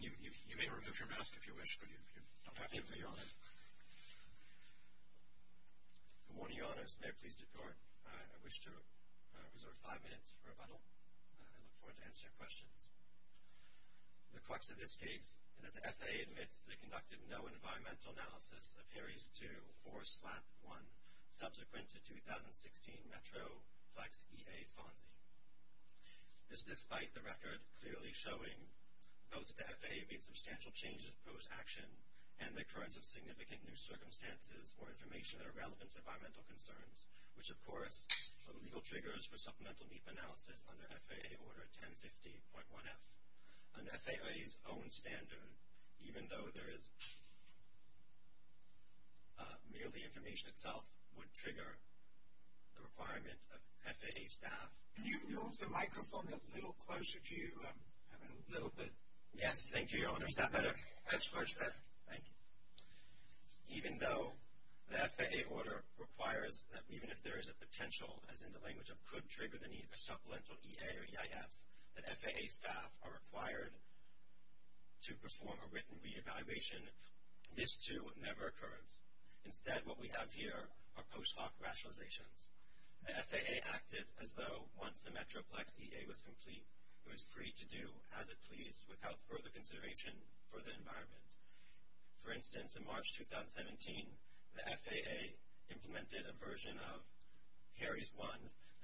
You may remove your mask if you wish, but you don't have to, Your Honor. Good morning, Your Honor. As the mayor pleased to court, I wish to reserve five minutes for rebuttal. I look forward to answering your questions. The crux of this case is that the FAA admits that it conducted no environmental analysis of Harries II or SLAP I, subsequent to 2016 Metroplex EA Fonzie. This despite the record clearly showing both that the FAA made substantial changes to proposed action and the occurrence of significant new circumstances or information that are relevant to environmental concerns, which of course are the legal triggers for supplemental deep analysis under FAA Order 1050.1f. Under FAA's own standard, even though there is merely information itself, this would trigger the requirement of FAA staff. Can you move the microphone a little closer to you, a little bit? Yes, thank you, Your Honor. Is that better? That's much better. Thank you. Even though the FAA order requires that even if there is a potential, as in the language of could trigger the need for supplemental EA or EIS, that FAA staff are required to perform a written re-evaluation, this too never occurs. Instead, what we have here are post hoc rationalizations. The FAA acted as though once the Metroplex EA was complete, it was free to do as it pleased without further consideration for the environment. For instance, in March 2017, the FAA implemented a version of Harries I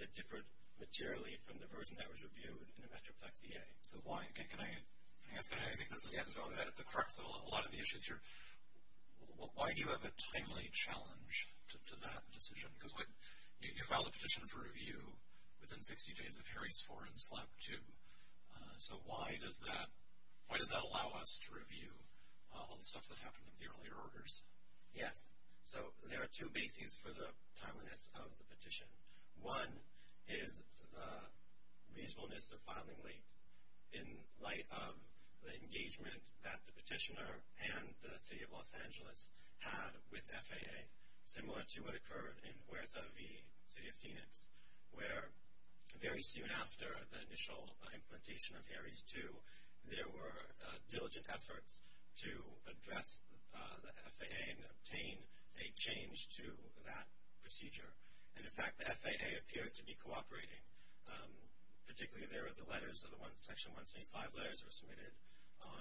that differed materially from the version that was reviewed in the Metroplex EA. So why? Can I ask? I think this is the crux of a lot of the issues here. Why do you have a timely challenge to that decision? Because you filed a petition for review within 60 days of Harries IV and SLAP II. So why does that allow us to review all the stuff that happened in the earlier orders? Yes, so there are two bases for the timeliness of the petition. One is the reasonableness of filing late in light of the engagement that the petitioner and the City of Los Angeles had with FAA, similar to what occurred in Huerta V, City of Phoenix, where very soon after the initial implementation of Harries II, there were diligent efforts to address the FAA and obtain a change to that procedure. And, in fact, the FAA appeared to be cooperating. Particularly, there were the letters of the ones, Section 175 letters, that were submitted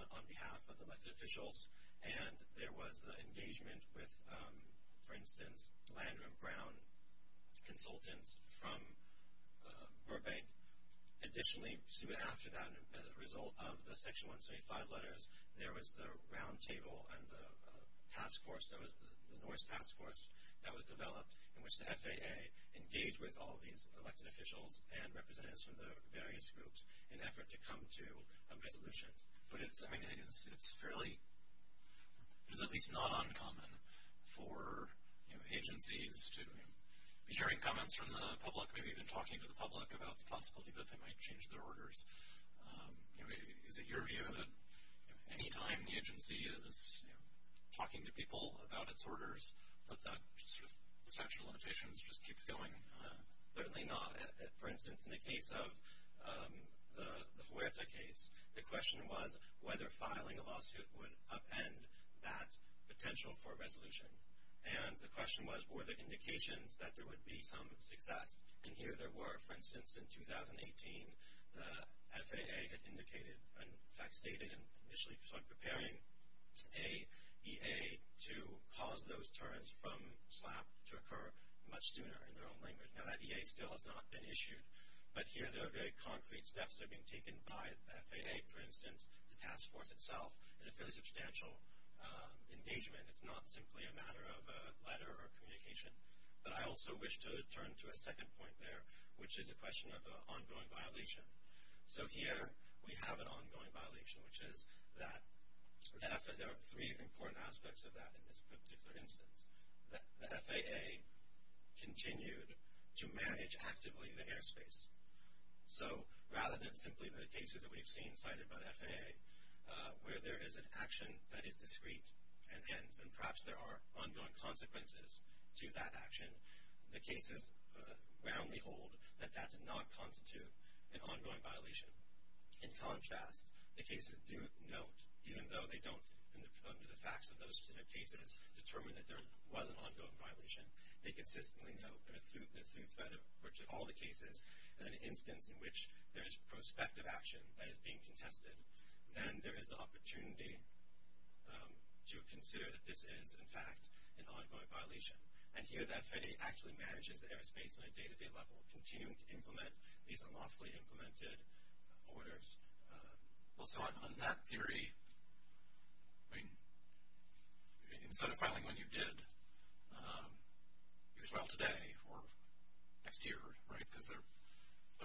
on behalf of elected officials. And there was the engagement with, for instance, Landon and Brown consultants from Burbank. Additionally, soon after that, as a result of the Section 175 letters, there was the roundtable and the task force, the Norse task force, that was developed in which the FAA engaged with all these elected officials and representatives from the various groups in an effort to come to a resolution. But it's fairly, at least not uncommon, for agencies to be hearing comments from the public, maybe even talking to the public about the possibility that they might change their orders. Is it your view that any time the agency is talking to people about its orders, that that sort of structural limitation just keeps going? Certainly not. For instance, in the case of the Huerta case, the question was whether filing a lawsuit would upend that potential for resolution. And the question was, were there indications that there would be some success? And here there were. For instance, in 2018, the FAA had indicated and, in fact, stated in initially preparing a EA to cause those terms from SLAPP to occur much sooner in their own language. Now, that EA still has not been issued. But here there are very concrete steps that are being taken by the FAA. For instance, the task force itself is a fairly substantial engagement. It's not simply a matter of a letter or communication. But I also wish to turn to a second point there, which is a question of an ongoing violation. So here we have an ongoing violation, which is that there are three important aspects of that in this particular instance. The FAA continued to manage actively the airspace. So rather than simply the cases that we've seen cited by the FAA, where there is an action that is discrete and ends, and perhaps there are ongoing consequences to that action, the cases roundly hold that that does not constitute an ongoing violation. In contrast, the cases do note, even though they don't, under the facts of those particular cases, determine that there was an ongoing violation, they consistently note that through threat of all the cases, in an instance in which there is prospective action that is being contested, then there is the opportunity to consider that this is, in fact, an ongoing violation. And here the FAA actually manages the airspace on a day-to-day level, continuing to implement these unlawfully implemented orders. Well, so on that theory, I mean, instead of filing when you did, you could file today or next year, right? Because they're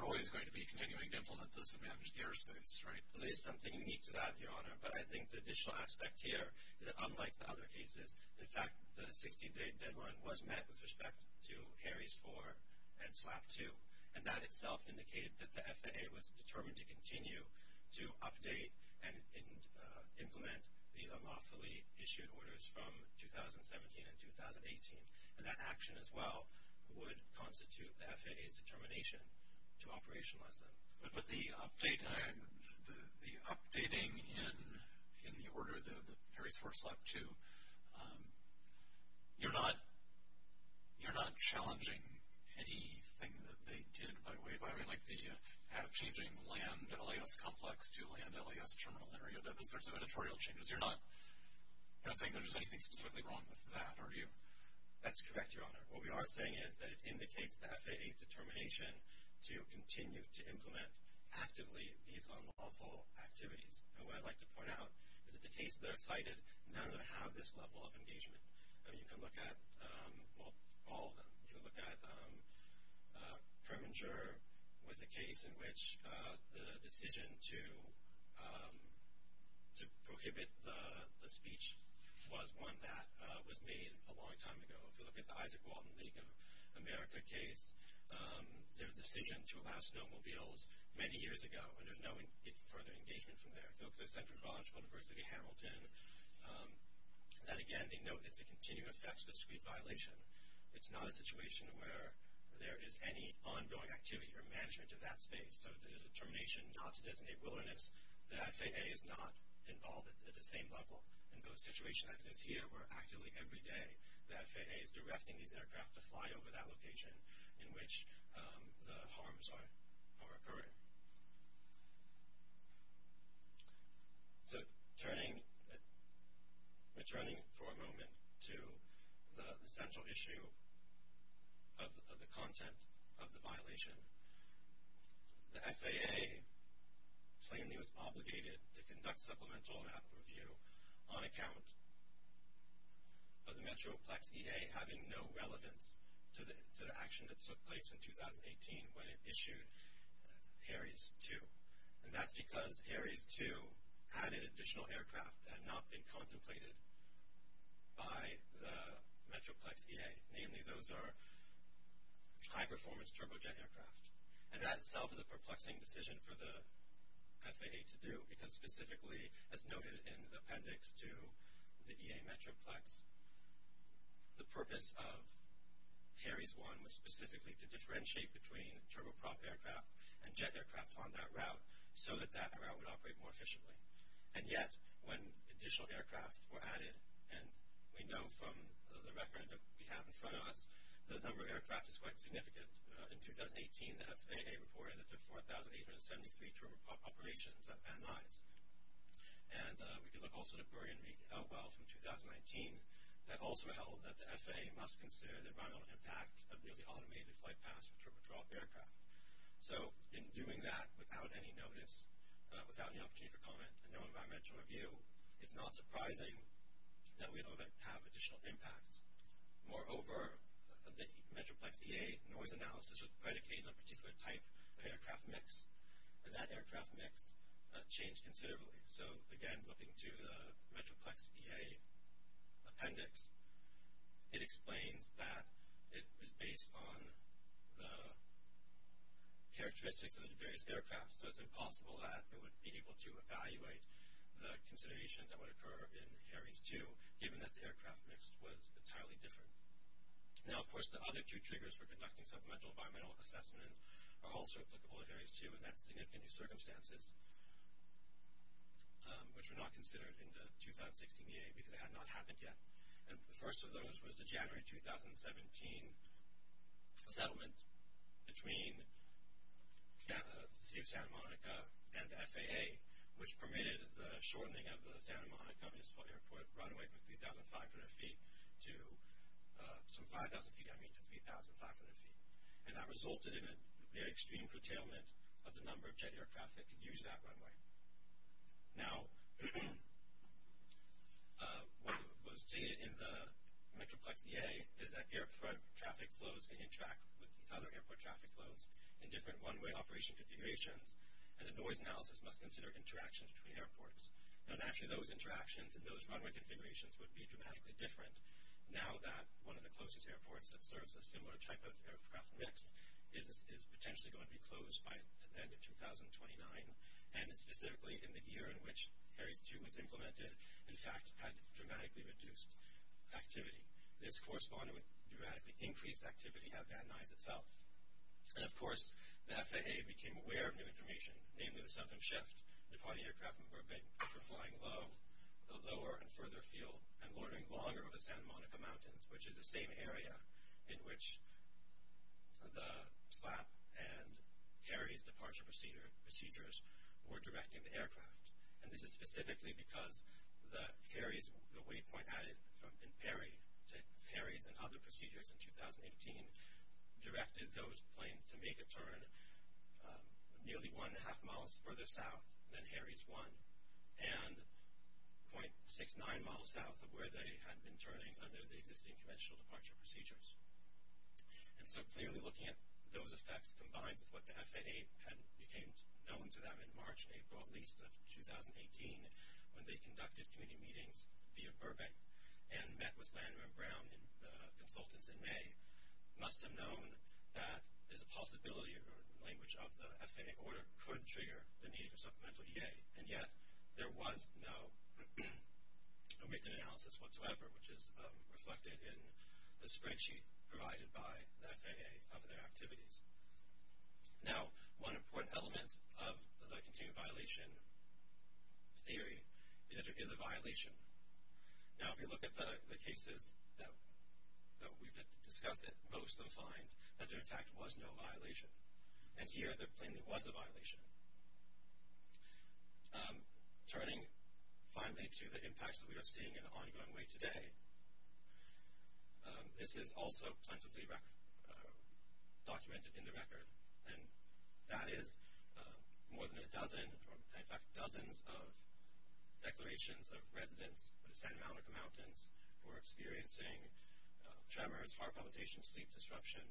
always going to be continuing to implement this and manage the airspace, right? Well, there's something unique to that, Your Honor. But I think the additional aspect here is that, unlike the other cases, in fact the 16-day deadline was met with respect to Harry's 4 and SLAPP 2, and that itself indicated that the FAA was determined to continue to update and implement these unlawfully issued orders from 2017 and 2018. And that action as well would constitute the FAA's determination to operationalize them. But the updating in the order of the Harry's 4 and SLAPP 2, you're not challenging anything that they did by way of, I mean, like the changing land LAS complex to land LAS terminal area, those sorts of editorial changes. You're not saying that there's anything specifically wrong with that, are you? That's correct, Your Honor. What we are saying is that it indicates the FAA's determination to continue to implement actively these unlawful activities. And what I'd like to point out is that the cases that are cited, none of them have this level of engagement. I mean, you can look at, well, all of them. You can look at Preminger was a case in which the decision to prohibit the speech was one that was made a long time ago. If you look at the Isaac Walton League of America case, their decision to allow snowmobiles many years ago, and there's no further engagement from there. If you look at the Central College, University of Hamilton, that, again, they note it's a continuing effects of a speed violation. It's not a situation where there is any ongoing activity or management in that space. So there's a determination not to designate wilderness. The FAA is not involved at the same level in those situations. As is here, where actively every day the FAA is directing these aircraft to fly over that location in which the harms are occurring. So returning for a moment to the central issue of the content of the violation, the FAA plainly was obligated to conduct supplemental review on account of the Metroplex EA having no relevance to the action that took place in 2018 when it issued Harries II. And that's because Harries II added additional aircraft that had not been contemplated by the Metroplex EA. Namely, those are high-performance turbojet aircraft. And that itself is a perplexing decision for the FAA to do because specifically, as noted in the appendix to the EA Metroplex, the purpose of Harries I was specifically to differentiate between turboprop aircraft and jet aircraft on that route so that that route would operate more efficiently. And yet, when additional aircraft were added, and we know from the record that we have in front of us, the number of aircraft is quite significant. In 2018, the FAA reported that there were 4,873 turboprop operations at Van Nuys. And we can look also at Burgenrege, Elwhel from 2019, that also held that the FAA must consider the environmental impact of newly automated flight paths for turboprop aircraft. So, in doing that without any notice, without the opportunity for comment, and no environmental review, it's not surprising that we don't have additional impacts. Moreover, the Metroplex EA noise analysis would predicate on a particular type of aircraft mix, and that aircraft mix changed considerably. So, again, looking to the Metroplex EA appendix, it explains that it was based on the characteristics of the various aircraft, so it's impossible that it would be able to evaluate the considerations that would occur in Harries II, given that the aircraft mix was entirely different. Now, of course, the other two triggers for conducting supplemental environmental assessments are also applicable to Harries II, and that's significant new circumstances, which were not considered in the 2016 EA because they had not happened yet. And the first of those was the January 2017 settlement between the city of Santa Monica and the FAA, which permitted the shortening of the Santa Monica Municipal Airport right away from 3,500 feet to some 5,000 feet, and that resulted in a very extreme curtailment of the number of jet aircraft that could use that runway. Now, what was stated in the Metroplex EA is that airport traffic flows can interact with the other airport traffic flows in different runway operation configurations, and the noise analysis must consider interactions between airports. Now, naturally, those interactions and those runway configurations would be dramatically different, now that one of the closest airports that serves a similar type of aircraft mix is potentially going to be closed by the end of 2029, and specifically in the year in which Harries II was implemented, in fact, had dramatically reduced activity. This corresponded with dramatically increased activity at Van Nuys itself. And, of course, the FAA became aware of new information, namely the southern shift. The departing aircraft were big for flying low, the lower and further field, and loitering longer over the Santa Monica Mountains, which is the same area in which the SLAP and Harry's departure procedures were directing the aircraft. And this is specifically because the Harry's, the waypoint added in Perry to Harry's and other procedures in 2018, directed those planes to make a turn nearly one and a half miles further south than Harry's I, and .69 miles south of where they had been turning under the existing conventional departure procedures. And so clearly looking at those effects combined with what the FAA had became known to them in March and April, at least, of 2018, when they conducted community meetings via Burbank and met with Landrim and Brown consultants in May, must have known that there's a possibility or language of the FAA order could trigger the need for supplemental EA. And yet there was no written analysis whatsoever, which is reflected in the spreadsheet provided by the FAA of their activities. Now, one important element of the continued violation theory is that there is a violation. Now, if you look at the cases that we've discussed, most of them find that there, in fact, was no violation. And here, there plainly was a violation. Turning finally to the impacts that we are seeing in the ongoing way today, this is also plentifully documented in the record. And that is more than a dozen, in fact, dozens of declarations of residents of the Santa Monica Mountains who are experiencing tremors, heart palpitations, sleep disruption,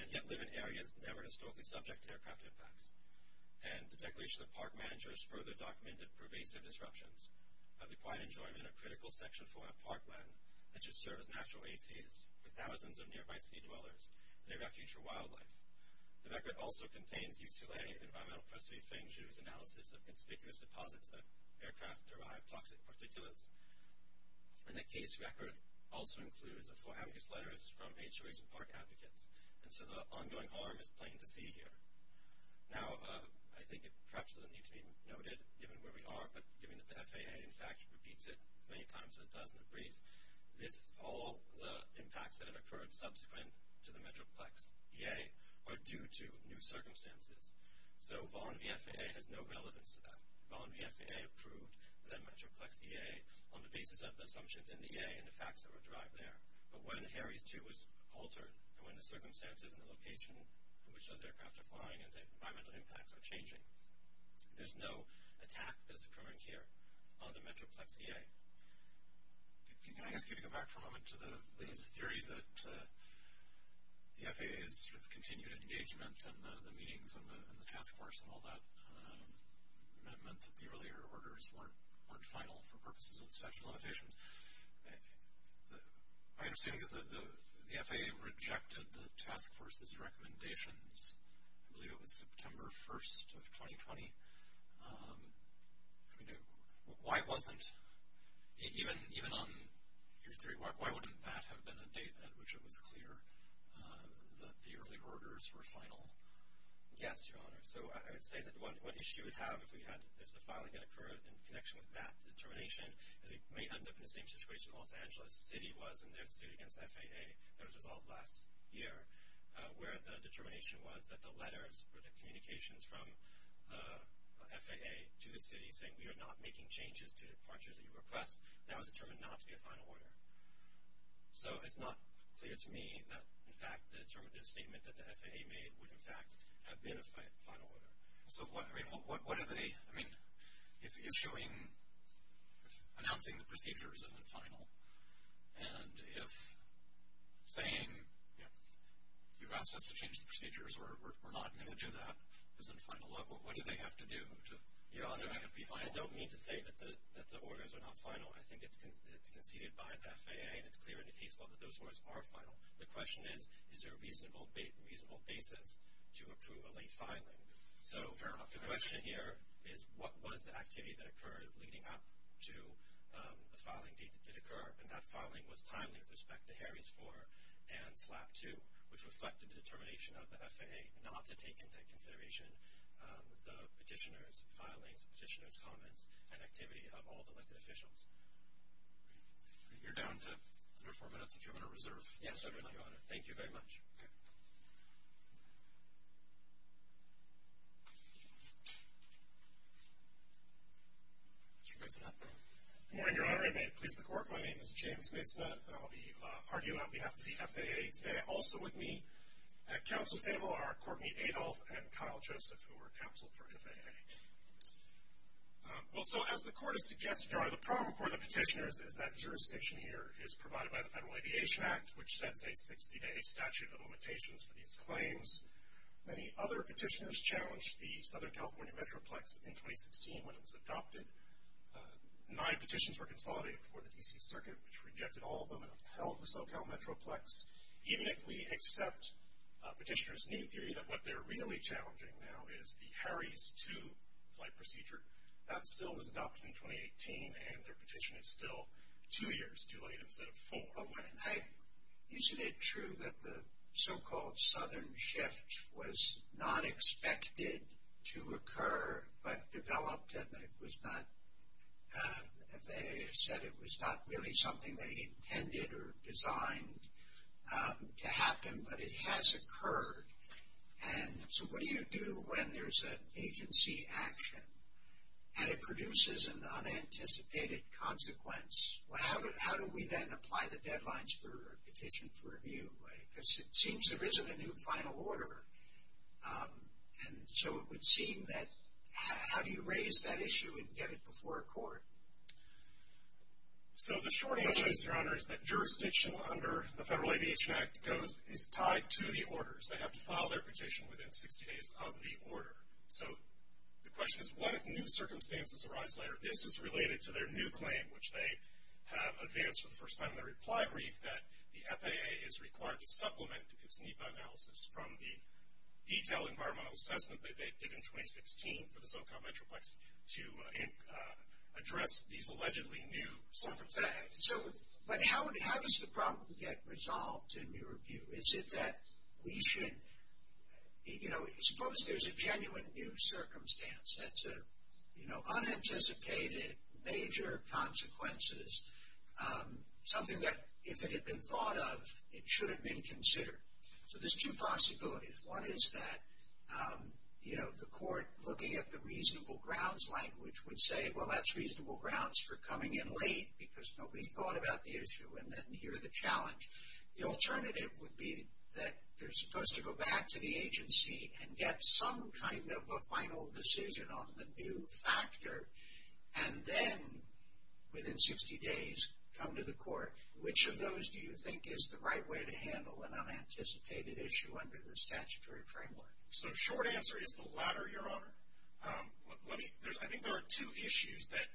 and yet live in areas never historically subject to aircraft impacts. And the Declaration of the Park Manager has further documented pervasive disruptions of the quiet enjoyment of critical section-form of parkland that just serves natural ACs, with thousands of nearby sea dwellers, and a refuge for wildlife. The record also contains UCLA Environmental Pressury Finger's analysis of conspicuous deposits of aircraft-derived toxic particulates. And the case record also includes a full-habitus letter from H.O.A.C.E. and Park Advocates. And so the ongoing harm is plain to see here. Now, I think it perhaps doesn't need to be noted, given where we are, but given that the FAA, in fact, repeats it as many times as it does in the brief, this, all the impacts that have occurred subsequent to the Metroplex EA are due to new circumstances. So Vaughan v. FAA has no relevance to that. Vaughan v. FAA approved the Metroplex EA on the basis of the assumptions in the EA and the facts that were derived there. But when Harry's 2 was altered, and when the circumstances and the location in which those aircraft are flying and the environmental impacts are changing, there's no attack that's occurring here on the Metroplex EA. Can I ask you to go back for a moment to the theory that the FAA's sort of continued engagement and the meetings and the task force and all that meant that the earlier orders weren't final for purposes of special limitations. My understanding is that the FAA rejected the task force's recommendations. I believe it was September 1st of 2020. I mean, why wasn't, even on your theory, why wouldn't that have been the date at which it was clear that the earlier orders were final? Yes, Your Honor. So I would say that what issue we'd have if the filing had occurred in connection with that determination is it may end up in the same situation Los Angeles City was in their suit against FAA that was resolved last year where the determination was that the letters or the communications from the FAA to the city saying we are not making changes to departures that you request, that was determined not to be a final order. So it's not clear to me that, in fact, the statement that the FAA made would, in fact, have been a final order. So what are they, I mean, if issuing, if announcing the procedures isn't final and if saying you've asked us to change the procedures or we're not going to do that isn't final, what do they have to do to, Your Honor, make it be final? I don't mean to say that the orders are not final. I think it's conceded by the FAA and it's clear in the case law that those orders are final. The question is, is there a reasonable basis to approve a late filing? So the question here is what was the activity that occurred leading up to the filing date that did occur? And that filing was timely with respect to Harry's 4 and SLAP 2, which reflected the determination of the FAA not to take into consideration the petitioner's filings, the petitioner's comments, and activity of all the elected officials. You're down to under four minutes if you want to reserve. Yes, I will, Your Honor. Thank you very much. Mr. Masonet. Good morning, Your Honor. And may it please the Court, my name is James Masonet, and I'll be arguing on behalf of the FAA today. Also with me at council table are Courtney Adolph and Kyle Joseph, who were counseled for FAA. Well, so as the Court has suggested, Your Honor, the problem for the petitioners is that jurisdiction here is provided by the Federal Aviation Act, which sets a 60-day statute of limitations for these claims. Many other petitioners challenged the Southern California Metroplex in 2016 when it was adopted. Nine petitions were consolidated for the D.C. Circuit, which rejected all of them and upheld the SoCal Metroplex. Even if we accept petitioners' new theory that what they're really challenging now is the Harry's 2 flight procedure, that still was adopted in 2018, and their petition is still two years too late instead of four. Isn't it true that the so-called Southern shift was not expected to occur but developed and it was not, the FAA said it was not really something they intended or designed to happen, but it has occurred? And so what do you do when there's an agency action and it produces an unanticipated consequence? Well, how do we then apply the deadlines for a petition for review? Because it seems there isn't a new final order. And so it would seem that how do you raise that issue and get it before a court? So the short answer is, Your Honor, is that jurisdiction under the Federal Aviation Act is tied to the orders. They have to file their petition within 60 days of the order. So the question is what if new circumstances arise later? This is related to their new claim, which they have advanced for the first time in their reply brief, that the FAA is required to supplement its NEPA analysis from the detailed environmental assessment that they did in 2016 for the SoCal Metroplex to address these allegedly new circumstances. But how does the problem get resolved in your view? Is it that we should, you know, suppose there's a genuine new circumstance that's a, you know, unanticipated major consequences, something that if it had been thought of, it should have been considered. So there's two possibilities. One is that, you know, the court looking at the reasonable grounds language would say, well, that's reasonable grounds for coming in late because nobody thought about the issue, and then here's the challenge. The alternative would be that you're supposed to go back to the agency and get some kind of a final decision on the new factor, and then within 60 days come to the court. Which of those do you think is the right way to handle an unanticipated issue under the statutory framework? So short answer is the latter, Your Honor. I think there are two issues that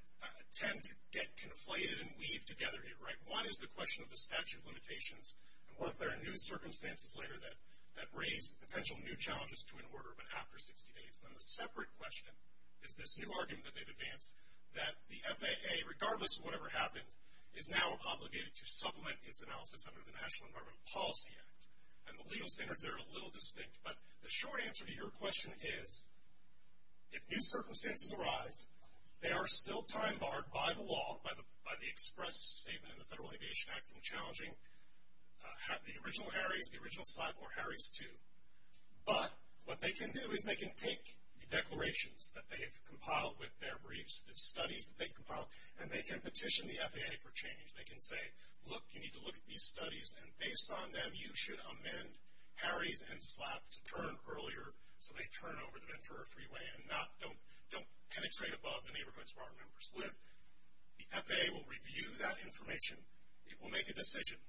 tend to get conflated and weave together here, right? One is the question of the statute of limitations and whether there are new circumstances later that raise potential new challenges to an order, but after 60 days. And then the separate question is this new argument that they've advanced, that the FAA, regardless of whatever happened, is now obligated to supplement its analysis under the National Environmental Policy Act. And the legal standards there are a little distinct, but the short answer to your question is, if new circumstances arise, they are still time barred by the law, by the express statement in the Federal Aviation Act from challenging the original Harry's, the original SLAP, or Harry's II. But what they can do is they can take the declarations that they've compiled with their briefs, the studies that they've compiled, and they can petition the FAA for change. They can say, look, you need to look at these studies, and based on them, you should amend Harry's and SLAP to turn earlier so they turn over the Ventura Freeway and don't penetrate above the neighborhoods where our members live. The FAA will review that information. It will make a decision.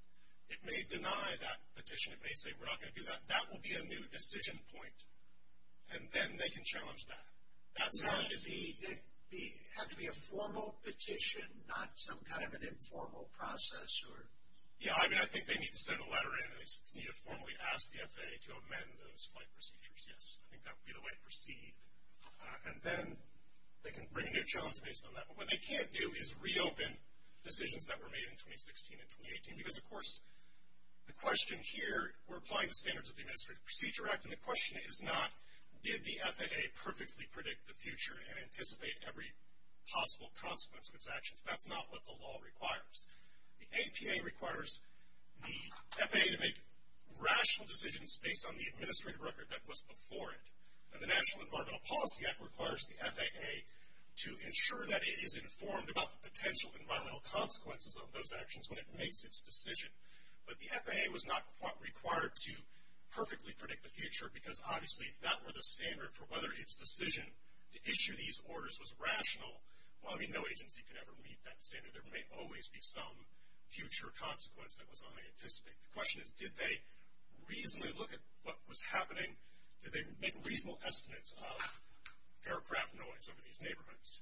It may deny that petition. It may say, we're not going to do that. That will be a new decision point. And then they can challenge that. That's not a decision. Does it have to be a formal petition, not some kind of an informal process? Yeah, I mean, I think they need to send a letter in, and they need to formally ask the FAA to amend those flight procedures, yes. I think that would be the way to proceed. And then they can bring a new challenge based on that. What they can't do is reopen decisions that were made in 2016 and 2018, because, of course, the question here, we're applying the standards of the Administrative Procedure Act, and the question is not did the FAA perfectly predict the future and anticipate every possible consequence of its actions. That's not what the law requires. The APA requires the FAA to make rational decisions based on the administrative record that was before it, and the National Environmental Policy Act requires the FAA to ensure that it is informed about the potential environmental consequences of those actions when it makes its decision. But the FAA was not required to perfectly predict the future, because obviously if that were the standard for whether its decision to issue these orders was rational, well, I mean, no agency could ever meet that standard. There may always be some future consequence that was unanticipated. The question is did they reasonably look at what was happening? Did they make reasonable estimates of aircraft noise over these neighborhoods?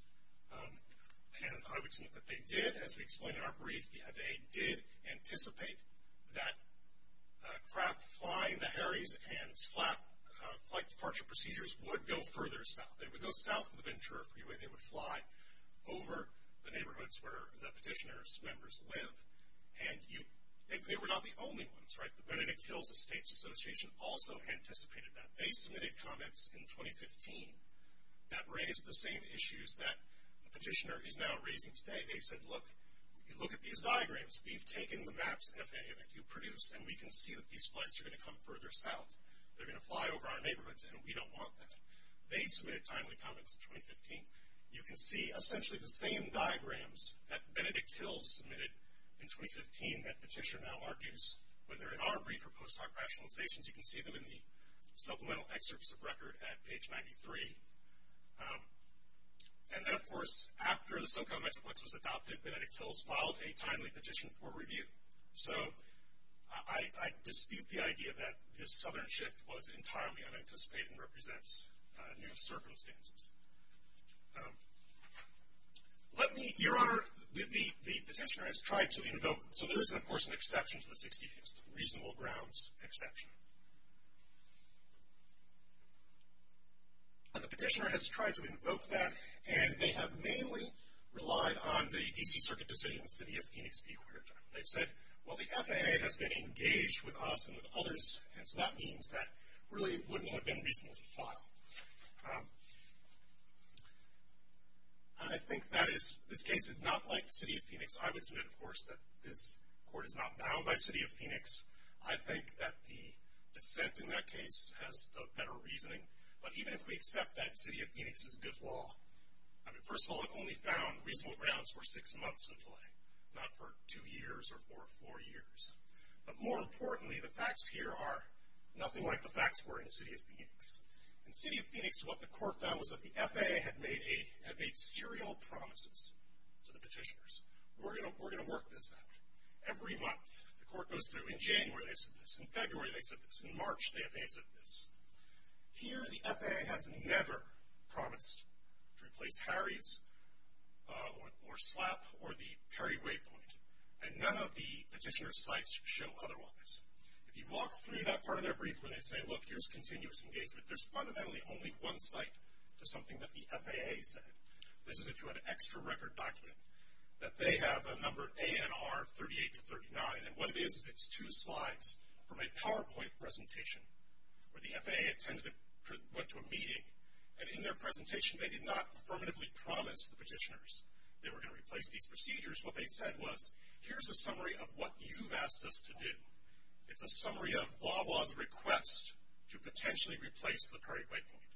And I would submit that they did. As we explained in our brief, the FAA did anticipate that craft flying the Harry's and SLAP flight departure procedures would go further south. They would go south of Ventura Freeway. They would fly over the neighborhoods where the petitioner's members live, and they were not the only ones, right? Benedict Hill's Estates Association also anticipated that. They submitted comments in 2015 that raised the same issues that the petitioner is now raising today. They said, look, you look at these diagrams. We've taken the maps the FAA produced, and we can see that these flights are going to come further south. They're going to fly over our neighborhoods, and we don't want that. They submitted timely comments in 2015. You can see essentially the same diagrams that Benedict Hill submitted in 2015 that petitioner now argues whether in our brief or post hoc rationalizations. You can see them in the supplemental excerpts of record at page 93. And then, of course, after the SoCal Metroplex was adopted, Benedict Hill's filed a timely petition for review. So I dispute the idea that this southern shift was entirely unanticipated and represents new circumstances. Your Honor, the petitioner has tried to invoke them. So there is, of course, an exception to the 60 days, the reasonable grounds exception. And the petitioner has tried to invoke that, and they have mainly relied on the D.C. Circuit decision, the city of Phoenix being aware of that. They've said, well, the FAA has been engaged with us and with others, and so that means that really wouldn't have been reasonable to file. I think this case is not like the city of Phoenix. I would submit, of course, that this court is not bound by the city of Phoenix. I think that the dissent in that case has the better reasoning. But even if we accept that the city of Phoenix is good law, I mean, first of all, it only found reasonable grounds for six months in play, not for two years or for four years. But more importantly, the facts here are nothing like the facts were in the city of Phoenix. In the city of Phoenix, what the court found was that the FAA had made serial promises to the petitioners. We're going to work this out. Every month, the court goes through. In January, they said this. In February, they said this. In March, the FAA said this. Here, the FAA has never promised to replace Harry's or SLAP or the Perry Waypoint, and none of the petitioner's sites show otherwise. If you walk through that part of their brief where they say, look, here's continuous engagement, there's fundamentally only one site to something that the FAA said. This is if you had an extra record document, that they have a number ANR 38-39, and what it is is it's two slides from a PowerPoint presentation where the FAA attended and went to a meeting, and in their presentation they did not affirmatively promise the petitioners they were going to replace these procedures. What they said was, here's a summary of what you've asked us to do. It's a summary of VAWA's request to potentially replace the Perry Waypoint.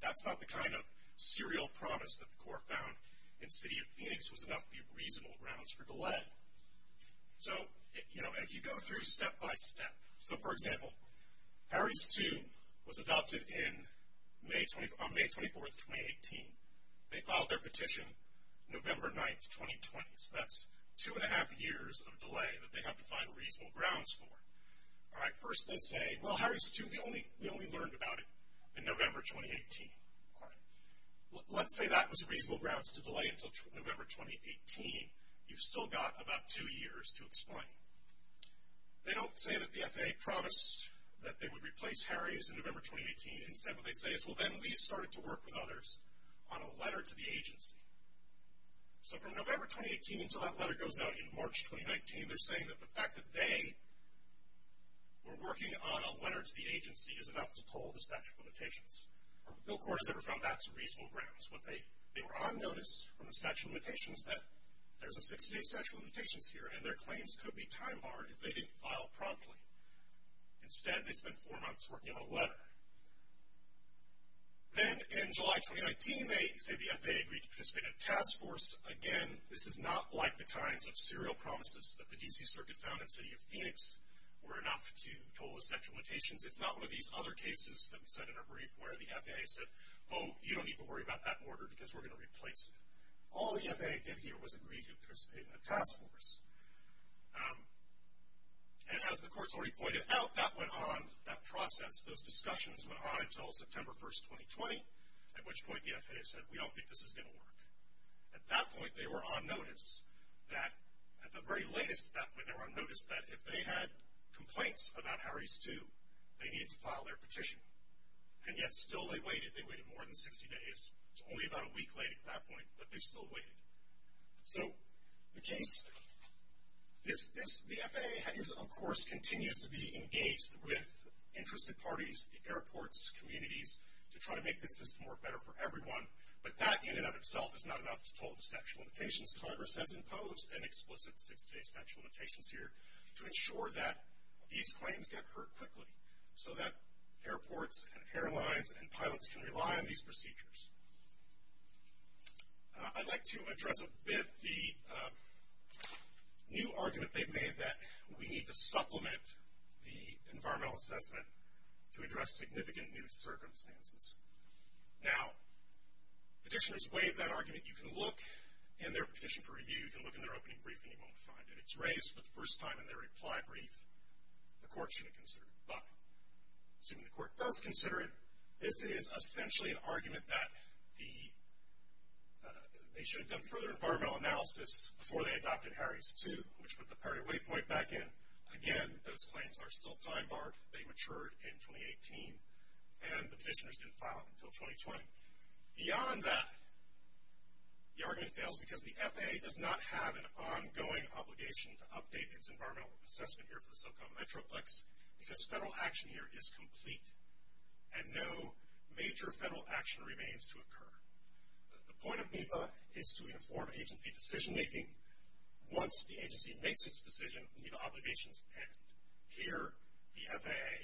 That's not the kind of serial promise that the court found in the city of Phoenix was enough to be reasonable grounds for delay. So, you know, as you go through step by step. So, for example, Harry's 2 was adopted on May 24, 2018. They filed their petition November 9, 2020. So that's two and a half years of delay that they have to find reasonable grounds for. All right, first they say, well, Harry's 2, we only learned about it in November 2018. Let's say that was reasonable grounds to delay until November 2018. You've still got about two years to explain. They don't say that the FAA promised that they would replace Harry's in November 2018. Instead what they say is, well, then we started to work with others on a letter to the agency. So from November 2018 until that letter goes out in March 2019, they're saying that the fact that they were working on a letter to the agency is enough to toll the statute of limitations. No court has ever found that to be reasonable grounds. They were on notice from the statute of limitations that there's a 60-day statute of limitations here and their claims could be time-barred if they didn't file promptly. Instead, they spent four months working on a letter. Then in July 2019, they say the FAA agreed to participate in a task force. Again, this is not like the kinds of serial promises that the D.C. Circuit found in the city of Phoenix were enough to toll the statute of limitations. It's not one of these other cases that we said in our brief where the FAA said, oh, you don't need to worry about that order because we're going to replace it. All the FAA did here was agree to participate in a task force. And as the courts already pointed out, that went on, that process, those discussions went on until September 1, 2020, at which point the FAA said, we don't think this is going to work. At that point, they were on notice that, at the very latest at that point, they were on notice that if they had complaints about Harris II, they needed to file their petition. And yet still they waited. They waited more than 60 days. It's only about a week late at that point, but they still waited. So the case, the FAA, of course, continues to be engaged with interested parties, the airports, communities, to try to make this system work better for everyone. But that in and of itself is not enough to toll the statute of limitations. Congress has imposed an explicit six-day statute of limitations here to ensure that these claims get heard quickly so that airports and airlines and pilots can rely on these procedures. I'd like to address a bit the new argument they've made that we need to supplement the environmental assessment to address significant new circumstances. Now, petitioners waive that argument. You can look in their petition for review. You can look in their opening brief, and you won't find it. It's raised for the first time in their reply brief. The court shouldn't consider it. But assuming the court does consider it, this is essentially an argument that they should have done further environmental analysis before they adopted Harry's 2, which put the priority waypoint back in. Again, those claims are still time-barred. They matured in 2018, and the petitioners didn't file them until 2020. Beyond that, the argument fails because the FAA does not have an ongoing obligation to update its environmental assessment here for the SoCal Metroplex because federal action here is complete, and no major federal action remains to occur. The point of NEPA is to inform agency decision-making. Once the agency makes its decision, NEPA obligations end. Here, the FAA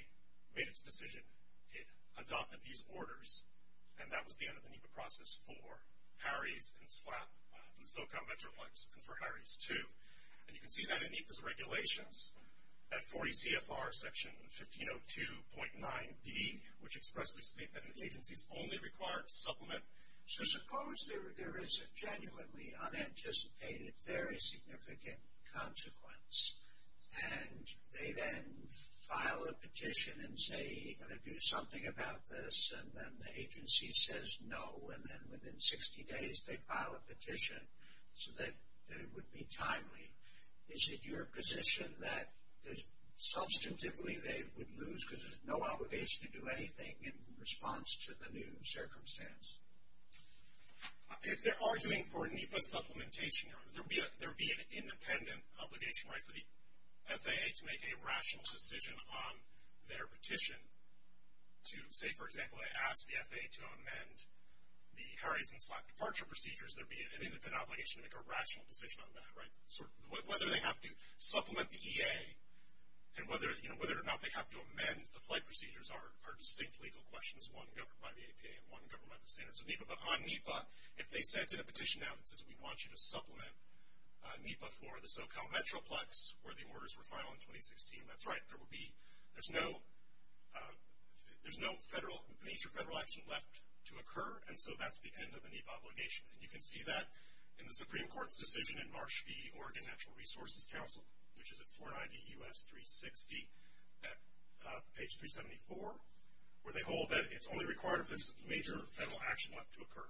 made its decision. It adopted these orders, and that was the end of the NEPA process for Harry's and SLAP, for the SoCal Metroplex, and for Harry's 2. And you can see that in NEPA's regulations. That 40 CFR Section 1502.9d, which expressly states that agencies only require to supplement. So suppose there is a genuinely unanticipated, very significant consequence, and they then file a petition and say, we're going to do something about this, and then the agency says no, and then within 60 days they file a petition so that it would be timely. Is it your position that, substantively, they would lose because there's no obligation to do anything in response to the new circumstance? If they're arguing for NEPA supplementation, there would be an independent obligation for the FAA to make a rational decision on their petition to, say, for example, ask the FAA to amend the Harry's and SLAP departure procedures. There would be an independent obligation to make a rational decision on that. Whether they have to supplement the EA, and whether or not they have to amend the flight procedures are distinct legal questions, one governed by the APA and one governed by the standards of NEPA. But on NEPA, if they sent in a petition now that says we want you to supplement NEPA for the SoCal Metroplex, where the orders were filed in 2016, that's right, there would be... There's no major federal action left to occur, and so that's the end of the NEPA obligation. And you can see that in the Supreme Court's decision in Marsh v. Oregon Natural Resources Council, which is at 490 U.S. 360 at page 374, where they hold that it's only required if there's major federal action left to occur.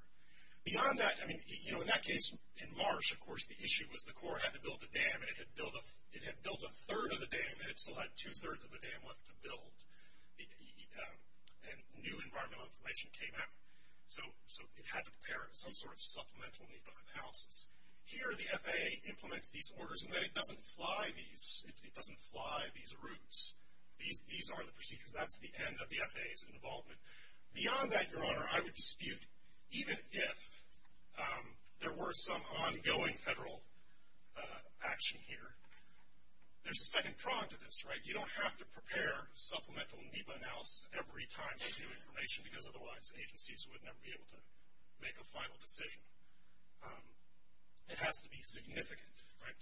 Beyond that, I mean, you know, in that case, in Marsh, of course, the issue was the Corps had to build a dam and it had built a third of the dam, and it still had two-thirds of the dam left to build. And new environmental information came up, so it had to prepare some sort of supplemental NEPA analysis. Here, the FAA implements these orders, and then it doesn't fly these routes. These are the procedures. That's the end of the FAA's involvement. Beyond that, Your Honor, I would dispute, even if there were some ongoing federal action here, there's a second prong to this, right? You don't have to prepare supplemental NEPA analysis every time there's new information, because otherwise agencies would never be able to make a final decision. It has to be significant, right?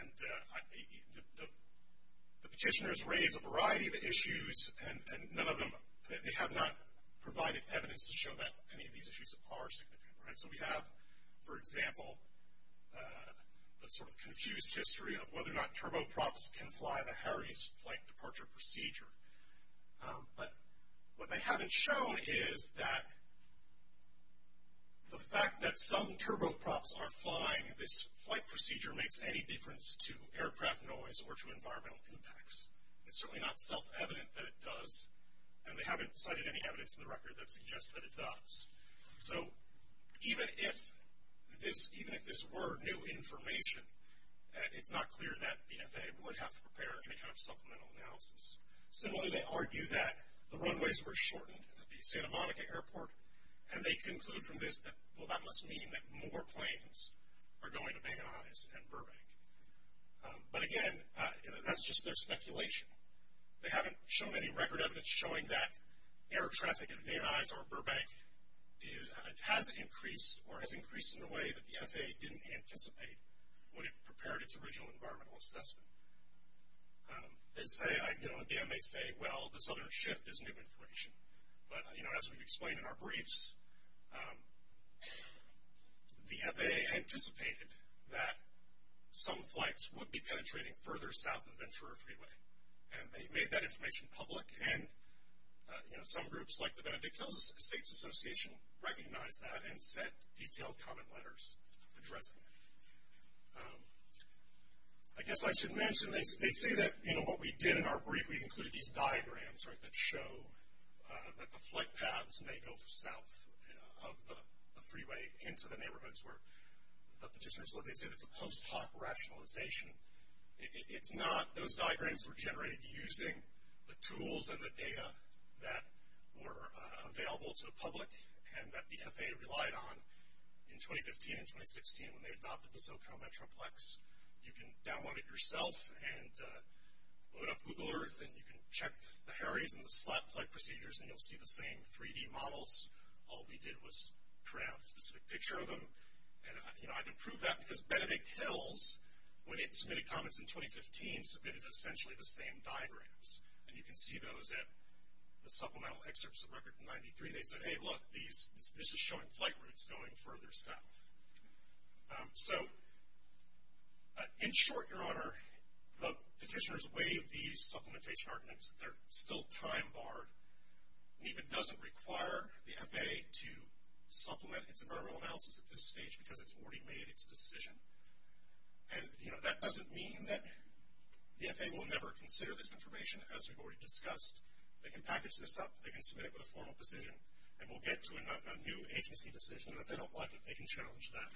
And the petitioners raise a variety of issues, and none of them, they have not provided evidence to show that any of these issues are significant, right? So we have, for example, the sort of confused history of whether or not turboprops can fly the Harry's flight departure procedure. But what they haven't shown is that the fact that some turboprops are flying this flight procedure makes any difference to aircraft noise or to environmental impacts. It's certainly not self-evident that it does, and they haven't cited any evidence in the record that suggests that it does. So even if this were new information, it's not clear that the FAA would have to prepare any kind of supplemental analysis. Similarly, they argue that the runways were shortened at the Santa Monica airport, and they conclude from this that, well, that must mean that more planes are going to Van Nuys and Burbank. But again, that's just their speculation. They haven't shown any record evidence showing that air traffic at Van Nuys or Burbank has increased or has increased in a way that the FAA didn't anticipate when it prepared its original environmental assessment. Again, they say, well, this other shift is new information. But, you know, as we've explained in our briefs, the FAA anticipated that some flights would be penetrating further south of Ventura Freeway, and they made that information public. And, you know, some groups, like the Benedict Hills States Association, recognized that and sent detailed comment letters addressing it. I guess I should mention, they say that, you know, what we did in our brief, we included these diagrams that show that the flight paths may go south of the freeway into the neighborhoods where the petitioners live. They say that's a post-hoc rationalization. It's not. Those diagrams were generated using the tools and the data that were available to the public, and that the FAA relied on in 2015 and 2016 when they adopted the SoCal Metroplex. You can download it yourself and load up Google Earth, and you can check the Harry's and the SLAT flight procedures, and you'll see the same 3D models. All we did was print out a specific picture of them. And, you know, I can prove that because Benedict Hills, when it submitted comments in 2015, submitted essentially the same diagrams. And you can see those at the supplemental excerpts of Record 93. They said, hey, look, this is showing flight routes going further south. So, in short, Your Honor, the petitioners waived these supplementation arguments. They're still time-barred. It even doesn't require the FAA to supplement its environmental analysis at this stage because it's already made its decision. And, you know, that doesn't mean that the FAA will never consider this information. As we've already discussed, they can package this up, they can submit it with a formal position, and we'll get to a new agency decision. And if they don't like it, they can challenge that.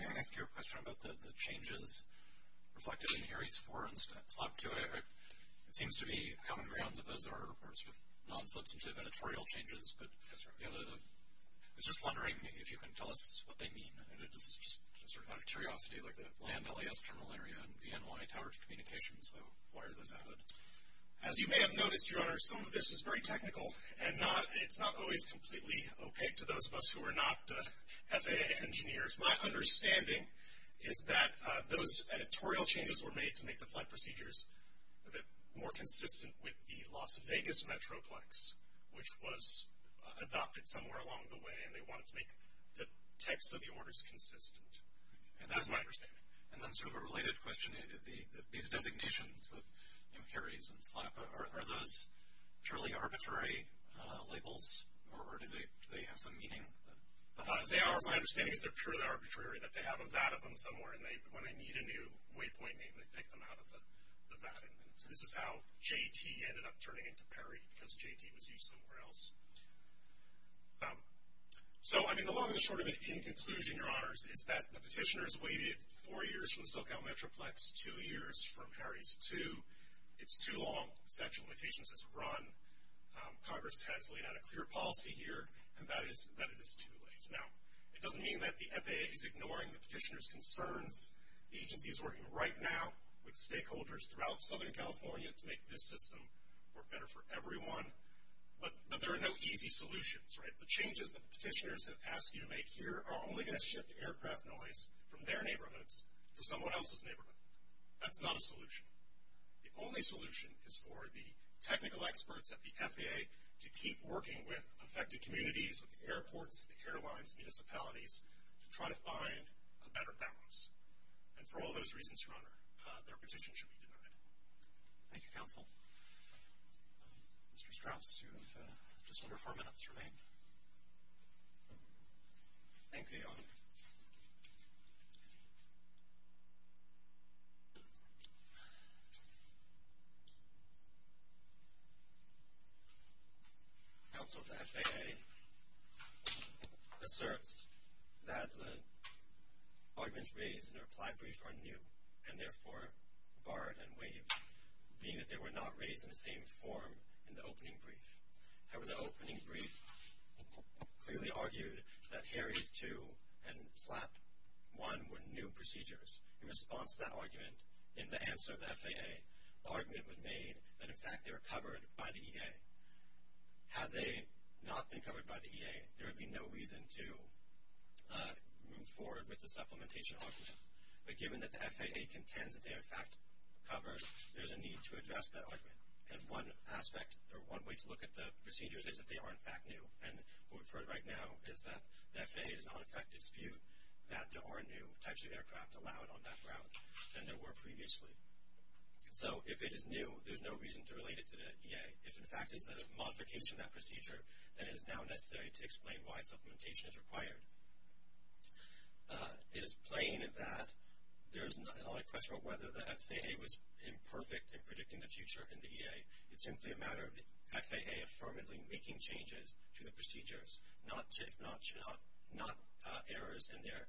May I ask you a question about the changes reflected in Harry's 4 and SLAT 2? It seems to be common ground that those are, of course, non-substantive editorial changes. But I was just wondering if you can tell us what they mean. And this is just out of curiosity. Like the land LAS terminal area and the NY Tower of Communications, why are those added? As you may have noticed, Your Honor, some of this is very technical, and it's not always completely opaque to those of us who are not FAA engineers. My understanding is that those editorial changes were made to make the flight procedures more consistent with the Las Vegas Metroplex, which was adopted somewhere along the way, and they wanted to make the text of the orders consistent. And that's my understanding. And then sort of a related question, these designations, you know, Harry's and SLAT, are those purely arbitrary labels? Or do they have some meaning? As they are, my understanding is they're purely arbitrary, that they have a VAT of them somewhere, and when they need a new waypoint name, they pick them out of the VAT. So this is how JT ended up turning into Perry, because JT was used somewhere else. So, I mean, the long and the short of it, in conclusion, Your Honors, is that the petitioners waited four years from the SoCal Metroplex, two years from Harry's, too. It's too long. The statute of limitations has run. Congress has laid out a clear policy here, and that is that it is too late. Now, it doesn't mean that the FAA is ignoring the petitioners' concerns. The agency is working right now with stakeholders throughout Southern California to make this system work better for everyone. But there are no easy solutions, right? The changes that the petitioners have asked you to make here are only going to shift aircraft noise from their neighborhoods to someone else's neighborhood. That's not a solution. The only solution is for the technical experts at the FAA to keep working with affected communities, with the airports, the airlines, municipalities, to try to find a better balance. And for all those reasons, Your Honor, their petition should be denied. Thank you, Counsel. Mr. Strauss, you have just under four minutes remaining. Thank you, Your Honor. Counsel, the FAA asserts that the arguments raised in the reply brief are new and therefore barred and waived, being that they were not raised in the same form in the opening brief. However, the opening brief clearly argued that Harries 2 and SLAP 1 were new procedures. In response to that argument, in the answer of the FAA, the argument was made that, in fact, they were covered by the EA. Had they not been covered by the EA, there would be no reason to move forward with the supplementation argument. But given that the FAA contends that they are, in fact, covered, there's a need to address that argument. And one aspect or one way to look at the procedures is that they are, in fact, new. And what we've heard right now is that the FAA does not, in fact, dispute that there are new types of aircraft allowed on that ground than there were previously. So if it is new, there's no reason to relate it to the EA. If, in fact, it's a modification of that procedure, then it is now necessary to explain why supplementation is required. It is plain that there is no question whether the FAA was imperfect in predicting the future in the EA. It's simply a matter of the FAA affirmatively making changes to the procedures, not errors in their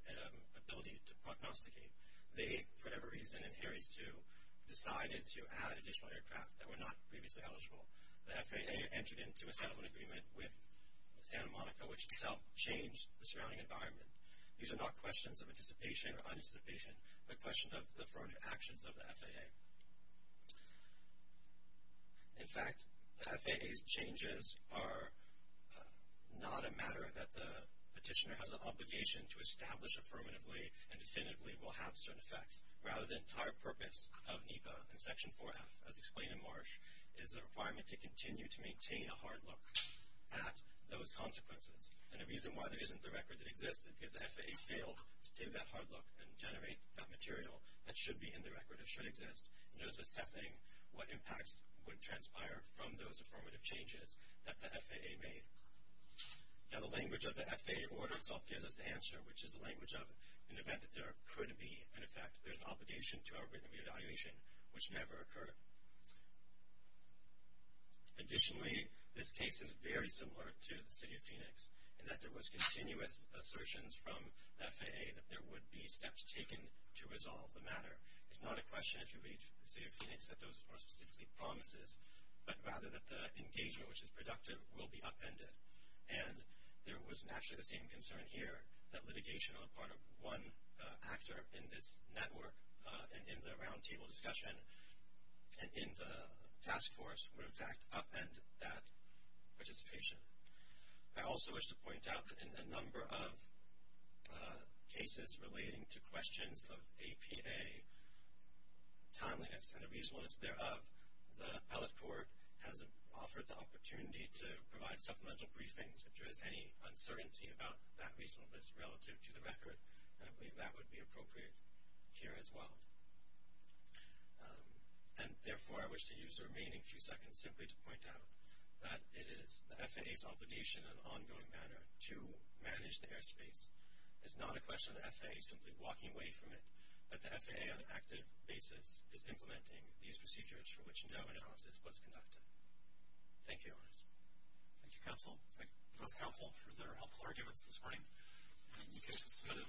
ability to prognosticate. They, for whatever reason, in Harries 2, decided to add additional aircraft that were not previously eligible. The FAA entered into a settlement agreement with Santa Monica, which itself changed the surrounding environment. These are not questions of anticipation or unanticipation, but questions of the affirmative actions of the FAA. In fact, the FAA's changes are not a matter that the petitioner has an obligation to establish affirmatively and definitively will have certain effects. Rather, the entire purpose of NEPA and Section 4F, as explained in Marsh, is a requirement to continue to maintain a hard look at those consequences. And the reason why there isn't the record that exists is because the FAA failed to take that hard look and generate that material that should be in the record or should exist. And there's assessing what impacts would transpire from those affirmative changes that the FAA made. Now, the language of the FAA order itself gives us the answer, which is the language of an event that there could be an effect. There's an obligation to our written re-evaluation, which never occurred. Additionally, this case is very similar to the City of Phoenix, in that there was continuous assertions from the FAA that there would be steps taken to resolve the matter. It's not a question, if you read the City of Phoenix, that those are specifically promises, but rather that the engagement, which is productive, will be upended. And there was naturally the same concern here that litigation on the part of one actor in this network and in the roundtable discussion and in the task force would, in fact, upend that participation. I also wish to point out that in a number of cases relating to questions of APA timeliness and a reasonableness thereof, the appellate court has offered the opportunity to provide supplemental briefings if there is any uncertainty about that reasonableness relative to the record, and I believe that would be appropriate here as well. And therefore, I wish to use the remaining few seconds simply to point out that it is the FAA's obligation in an ongoing manner to manage the airspace. It's not a question of the FAA simply walking away from it, but the FAA on an active basis is implementing these procedures for which endowment analysis was conducted. Thank you, Your Honors. Thank you, both counsel, for their helpful arguments this morning. The case is submitted.